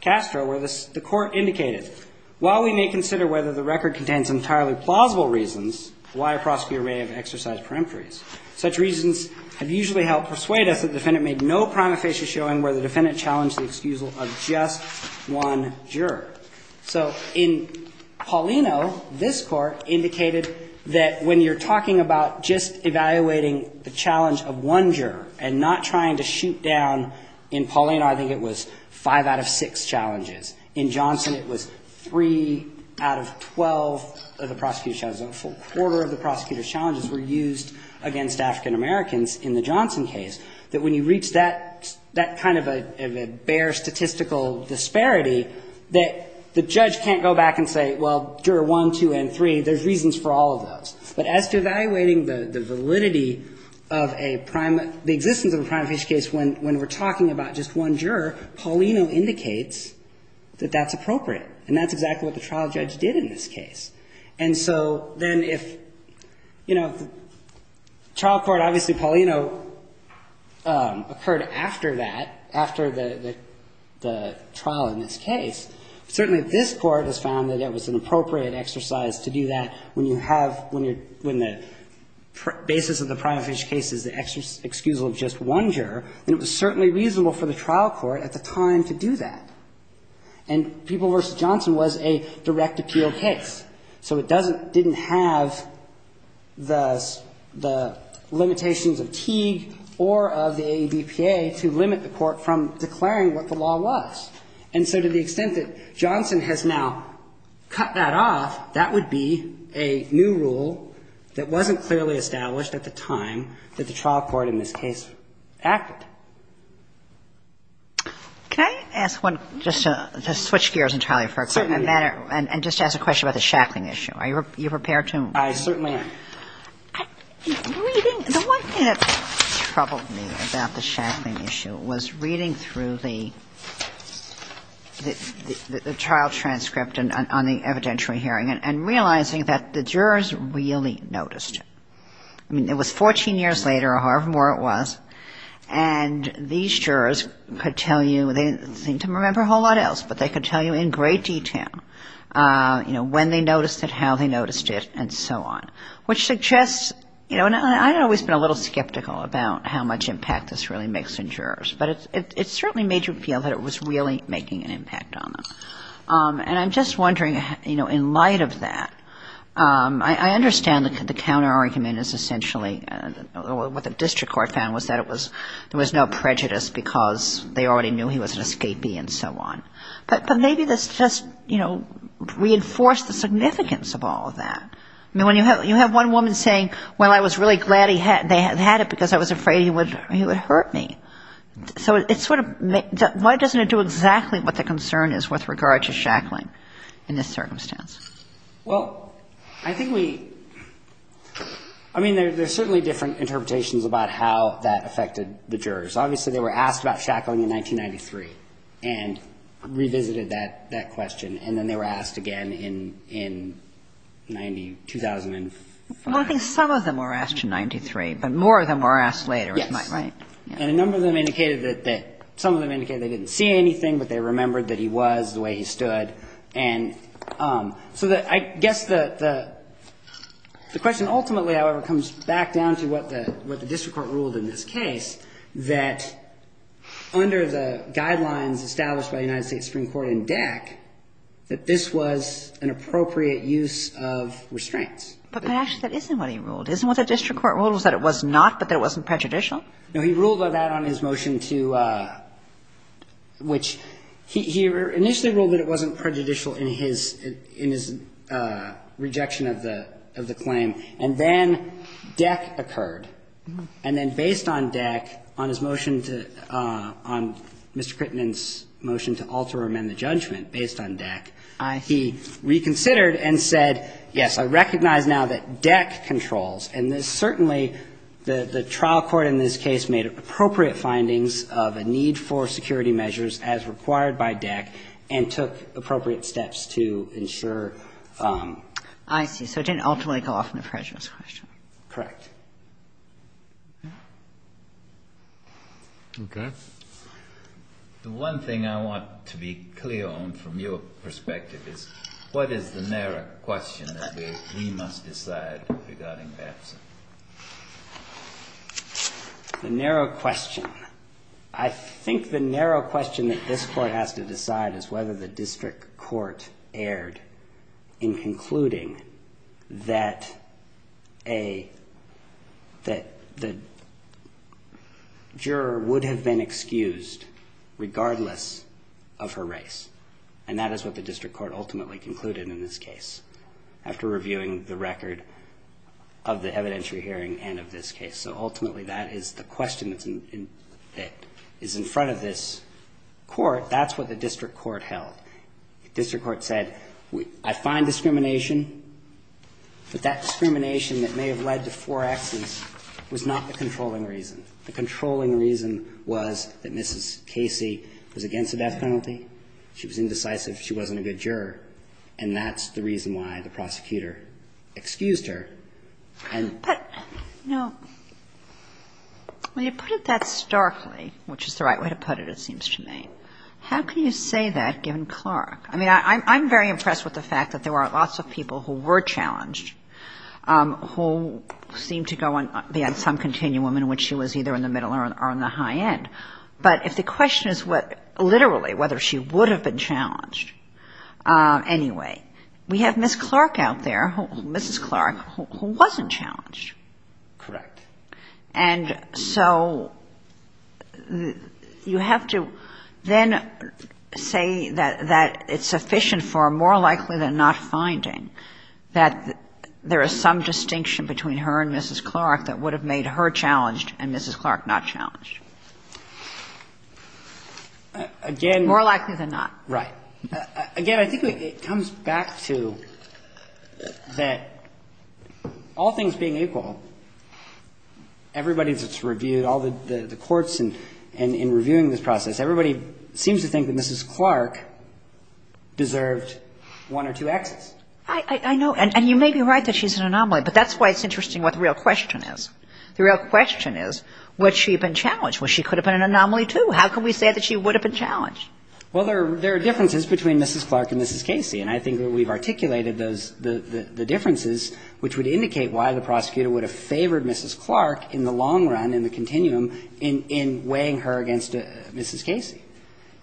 Castro where the Court indicated, while we may consider whether the record contains entirely plausible reasons, why a prosecutor may have exercised peremptories, such reasons have usually helped persuade us that the defendant made no prima facie showing where the defendant challenged the excusal of just one juror. So in Paulino, this Court indicated that when you're talking about just evaluating the challenge of one juror and not trying to shoot down, in Paulino I think it was 5 out of 6 challenges. In Johnson it was 3 out of 12 of the prosecutor's challenges. A full quarter of the prosecutor's challenges were used against African Americans in the Johnson case. That when you reach that kind of a bare statistical disparity, that the judge can't go back and say, well, juror 1, 2, and 3, there's reasons for all of those. But as to evaluating the validity of a prime — the existence of a prima facie case when we're talking about just one juror, Paulino indicates that that's appropriate. And that's exactly what the trial judge did in this case. And so then if, you know, the trial court — obviously Paulino occurred after that, after the trial in this case. Certainly this Court has found that it was an appropriate exercise to do that when you have — when the basis of the prima facie case is the excusal of just one juror, then it was certainly reasonable for the trial court at the time to do that. And People v. Johnson was a direct appeal case. So it doesn't — didn't have the — the limitations of Teague or of the AABPA to limit the court from declaring what the law was. And so to the extent that Johnson has now cut that off, that would be a new rule that wasn't clearly established at the time that the trial court in this case acted. Can I ask one — just to switch gears entirely for a minute and just ask a question about the Shackling issue. Are you prepared to — I certainly am. Reading — the one thing that troubled me about the Shackling issue was reading through the — the trial transcript on the evidentiary hearing and realizing that the jurors really noticed it. I mean, it was 14 years later or however long it was, and these jurors could tell you — they didn't seem to remember a whole lot else, but they could tell you in great detail, you know, when they noticed it, how they noticed it, and so on, which suggests — you know, and I've always been a little skeptical about how much impact this really makes on jurors, but it certainly made you feel that it was really making an impact on them. And I'm just wondering, you know, in light of that, I understand the counterargument is essentially — what the district court found was that it was — there was no prejudice because they already knew he was an escapee and so on. But maybe this just, you know, reinforced the significance of all of that. I mean, when you have — you have one woman saying, well, I was really glad he had — they had it because I was afraid he would — he would hurt me. So it's sort of — why doesn't it do exactly what the concern is with regard to shackling in this circumstance? Well, I think we — I mean, there's certainly different interpretations about how that affected the jurors. Obviously, they were asked about shackling in 1993 and revisited that question, and then they were asked again in 90 — 2005. Well, I think some of them were asked in 93, but more of them were asked later. Yes. Right, right. And a number of them indicated that — some of them indicated they didn't see anything, but they remembered that he was the way he stood. And so I guess the question ultimately, however, comes back down to what the district court ruled in this case, that under the guidelines established by the United States Supreme Court and DAC, that this was an appropriate use of restraints. But actually, that isn't what he ruled. Isn't what the district court ruled, was that it was not, but that it wasn't prejudicial? No. He ruled on that on his motion to — which he initially ruled that it wasn't prejudicial in his — in his rejection of the — of the claim. And then DAC occurred. And then based on DAC, on his motion to — on Mr. Crittenden's motion to alter or amend the judgment based on DAC, he reconsidered and said, yes, I recognize now that DAC controls. And this certainly — the trial court in this case made appropriate findings of a need for security measures as required by DAC and took appropriate steps to ensure — I see. So it didn't ultimately go off on a prejudice question. Correct. Okay. The one thing I want to be clear on from your perspective is what is the narrow question that we must decide regarding Batson? The narrow question. I think the narrow question that this court has to decide is whether the district court erred in concluding that a — that the juror would have been excused regardless of her race. And that is what the district court ultimately concluded in this case after reviewing the record of the evidentiary hearing and of this case. So ultimately, that is the question that's in — that is in front of this court. That's what the district court held. The district court said, I find discrimination, but that discrimination that may have led to four Xs was not the controlling reason. The controlling reason was that Mrs. Casey was against the death penalty. She was indecisive. She wasn't a good juror. And that's the reason why the prosecutor excused her. And — But, you know, when you put it that starkly, which is the right way to put it, it seems to me, how can you say that given Clark? I mean, I'm very impressed with the fact that there were lots of people who were challenged who seemed to go beyond some continuum in which she was either in the middle or on the high end. But if the question is what — literally whether she would have been challenged, anyway, we have Ms. Clark out there, Mrs. Clark, who wasn't challenged. Correct. And so you have to then say that it's sufficient for, more likely than not, finding that there is some distinction between her and Mrs. Clark that would have made her challenged and Mrs. Clark not challenged. Again — More likely than not. Right. Again, I think it comes back to that, all things being equal, everybody that's reviewed, all the courts in reviewing this process, everybody seems to think that Mrs. Clark deserved one or two Xs. I know. And you may be right that she's an anomaly, but that's why it's interesting what the real question is. The real question is, would she have been challenged? Well, she could have been an anomaly, too. How can we say that she would have been challenged? Well, there are differences between Mrs. Clark and Mrs. Casey. And I think that we've articulated the differences, which would indicate why the prosecutor would have favored Mrs. Clark in the long run, in the continuum, in weighing her against Mrs. Casey.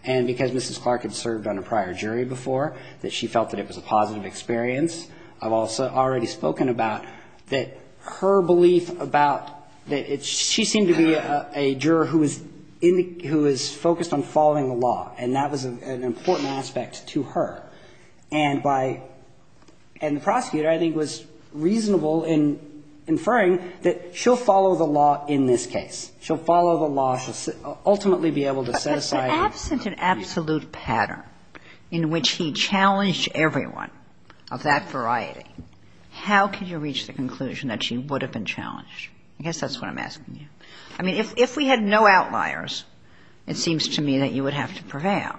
And because Mrs. Clark had served on a prior jury before, that she felt that it was a positive experience. I've also already spoken about that her belief about that she seemed to be a juror who was focused on following the law, and that was an important aspect to her. And by — and the prosecutor, I think, was reasonable in inferring that she'll follow the law in this case. She'll follow the law. She'll ultimately be able to set aside — If there wasn't an absolute pattern in which he challenged everyone of that variety, how could you reach the conclusion that she would have been challenged? I guess that's what I'm asking you. I mean, if we had no outliers, it seems to me that you would have to prevail.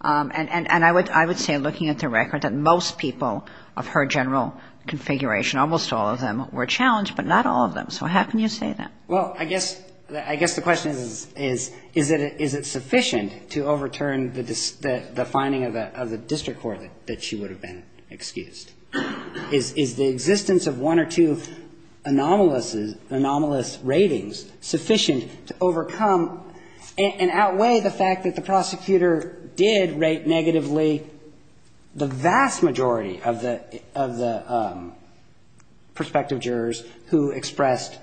And I would say, looking at the record, that most people of her general configuration, almost all of them, were challenged, but not all of them. So how can you say that? Well, I guess the question is, is it sufficient to overturn the finding of the district court that she would have been excused? Is the existence of one or two anomalous ratings sufficient to overcome and outweigh the fact that the prosecutor did rate negatively the vast majority of the prospective jurors who expressed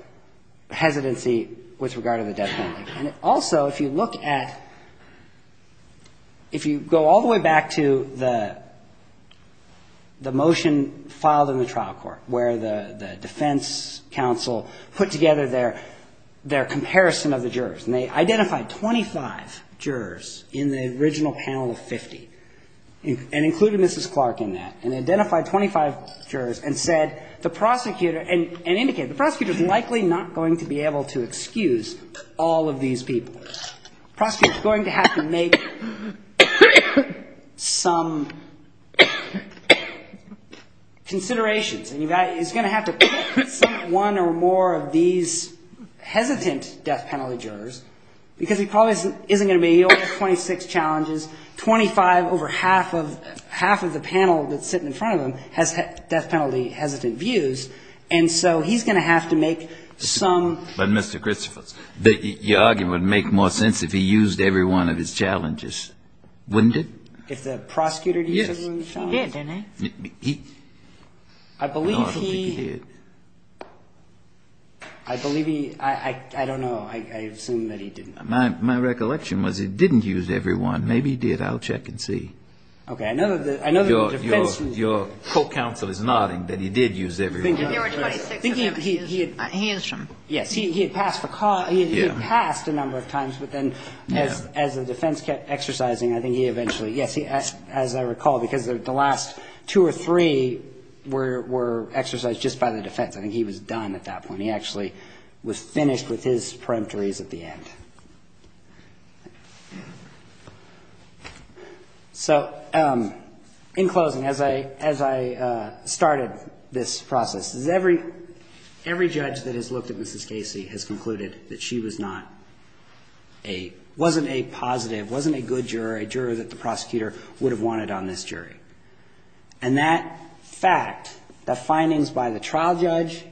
hesitancy with regard to the death penalty? And also, if you look at — if you go all the way back to the motion filed in the trial court, where the defense counsel put together their comparison of the jurors, and they identified 25 jurors in the original panel of 50, and included Mrs. Clark in that, and identified 25 jurors, and said, the prosecutor — and indicated, the prosecutor is likely not going to be able to excuse all of these people. The prosecutor is going to have to make some considerations, and he's going to have to put some one or more of these hesitant death penalty jurors, because he probably isn't going to be able to — he only has 26 challenges. Twenty-five over half of — half of the panel that's sitting in front of him has death penalty hesitant views. And so he's going to have to make some — But, Mr. Christopherson, your argument would make more sense if he used every one of his challenges, wouldn't it? If the prosecutor used every one of his challenges? Yes. He did, didn't he? I believe he — No, I don't think he did. I believe he — I don't know. I assume that he didn't. My recollection was he didn't use every one. Maybe he did. I'll check and see. Okay. I know that the defense — Your court counsel is nodding that he did use every one. I think he — He answered them. Yes. He had passed a number of times, but then as the defense kept exercising, I think he eventually — yes, as I recall, because the last two or three were exercised just by the defense. I think he was done at that point. And he actually was finished with his preemptories at the end. So, in closing, as I started this process, every judge that has looked at Mrs. Casey has concluded that she was not a — wasn't a positive, wasn't a good juror, a juror that the prosecutor would have wanted on this jury. And that fact, the findings by the trial judge,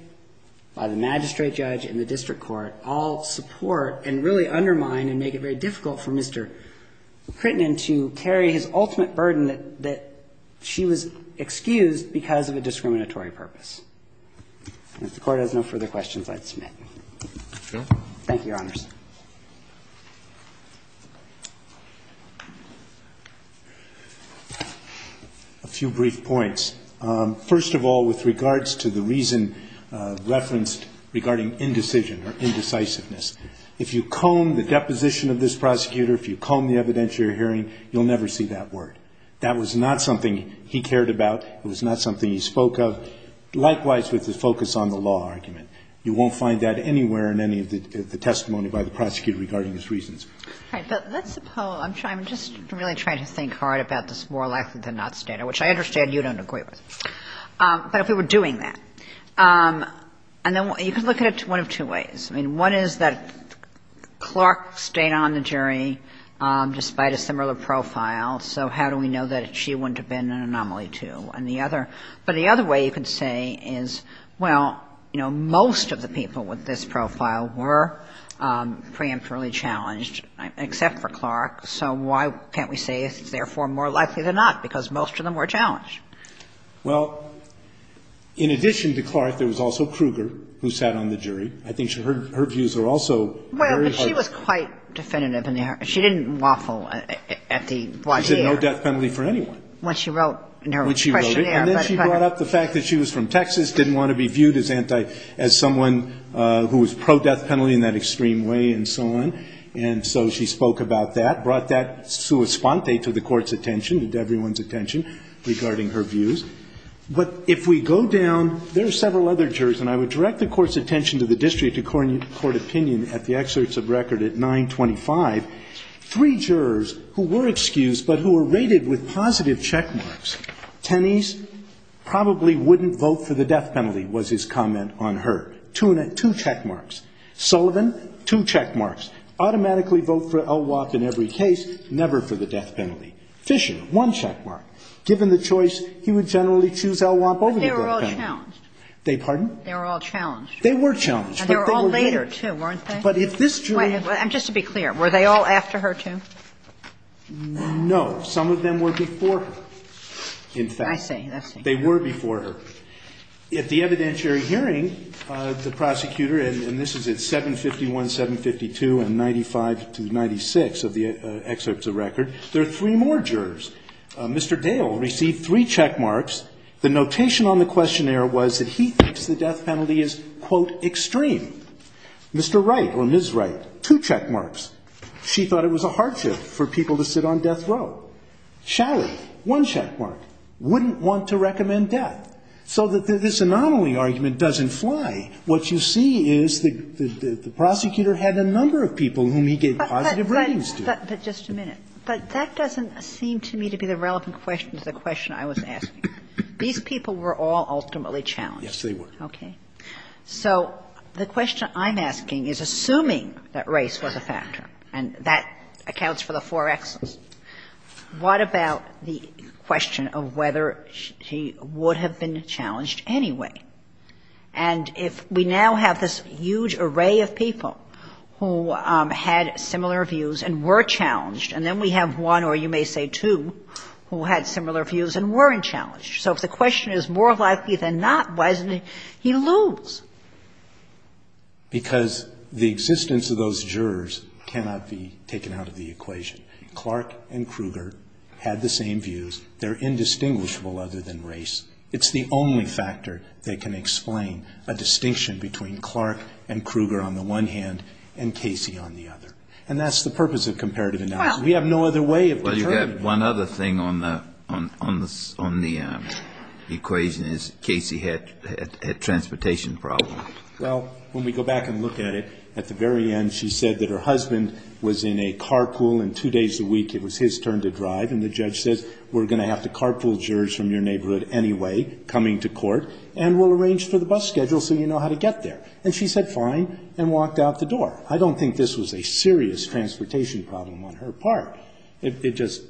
by the magistrate judge and the district court all support and really undermine and make it very difficult for Mr. Crittenden to carry his ultimate burden that she was excused because of a discriminatory purpose. If the Court has no further questions, I'd submit. Thank you, Your Honors. A few brief points. First of all, with regards to the reason referenced regarding indecision or indecisiveness, if you comb the deposition of this prosecutor, if you comb the evidence you're hearing, you'll never see that word. That was not something he cared about. It was not something he spoke of. Likewise with the focus on the law argument. You won't find that anywhere in any of the testimony we've heard. I'm not sure that the reason referenced in this case was that the jury was not satisfied with the problems that had been raised by the prosecutor regarding these reasons. All right. But let's suppose — I'm just really trying to think hard about this more likely than not standard, which I understand you don't agree with. But if we were doing that, and then you can look at it one of two ways. I mean, one is that Clark stayed on the jury despite a similar profile, so how do we know that she wouldn't have been an anomaly, too? And the other — but the other way you could say is, well, you know, most of the people with this profile were preemptively challenged, except for Clark, so why can't we say it's therefore more likely than not, because most of them were challenged? Well, in addition to Clark, there was also Kruger, who sat on the jury. I think her views are also very hard to— Well, but she was quite definitive. She didn't waffle at the point here. No death penalty for anyone. When she wrote her questionnaire. When she wrote it. And then she brought up the fact that she was from Texas, didn't want to be viewed as anti — as someone who was pro-death penalty in that extreme way and so on. And so she spoke about that, brought that sua sponte to the Court's attention, to everyone's attention, regarding her views. But if we go down — there are several other jurors, and I would direct the Court's attention to the district according to court opinion at the excerpts of record at 925. Three jurors who were excused but who were rated with positive checkmarks. Tenney's probably wouldn't vote for the death penalty was his comment on her. Two checkmarks. Sullivan, two checkmarks. Automatically vote for Elwap in every case, never for the death penalty. Fisher, one checkmark. Given the choice, he would generally choose Elwap over the death penalty. But they were all challenged. They pardon? They were all challenged. They were challenged. And they were all later, too, weren't they? But if this jury— Just to be clear, were they all after her, too? No. Some of them were before her, in fact. I see. They were before her. At the evidentiary hearing, the prosecutor, and this is at 751, 752, and 95 to 96 of the excerpts of record, there are three more jurors. Mr. Dale received three checkmarks. The notation on the questionnaire was that he thinks the death penalty is, quote, extreme. Mr. Wright or Ms. Wright, two checkmarks. She thought it was a hardship for people to sit on death row. Shally, one checkmark. Wouldn't want to recommend death. So this anomaly argument doesn't fly. What you see is the prosecutor had a number of people whom he gave positive ratings to. But just a minute. But that doesn't seem to me to be the relevant question to the question I was asking. These people were all ultimately challenged. Yes, they were. Okay. So the question I'm asking is, assuming that race was a factor, and that accounts for the four X's, what about the question of whether she would have been challenged anyway? And if we now have this huge array of people who had similar views and were challenged, and then we have one or you may say two who had similar views and weren't challenged. So if the question is more likely than not, why doesn't he lose? Because the existence of those jurors cannot be taken out of the equation. Clark and Kruger had the same views. They're indistinguishable other than race. It's the only factor that can explain a distinction between Clark and Kruger on the one hand and Casey on the other. And that's the purpose of comparative analysis. We have no other way of determining that. Kennedy, you have one other thing on the equation is Casey had a transportation problem. Well, when we go back and look at it, at the very end she said that her husband was in a carpool and two days a week it was his turn to drive, and the judge says we're going to have to carpool jurors from your neighborhood anyway coming to court and we'll arrange for the bus schedule so you know how to get there. And she said fine and walked out the door. I don't think this was a serious transportation problem on her part. It just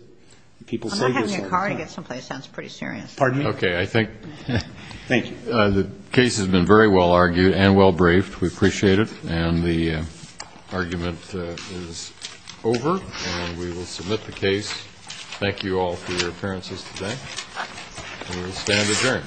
people say this all the time. I'm not having a car to get someplace sounds pretty serious. Pardon me? Okay, I think. Thank you. The case has been very well argued and well braved. We appreciate it. And the argument is over. And we will submit the case. Thank you all for your appearances today. We will stand adjourned.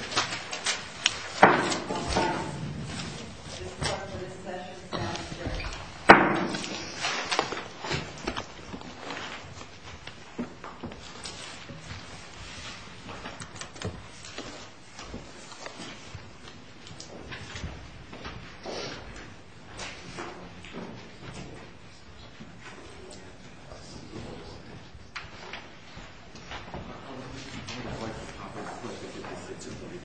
Thank you.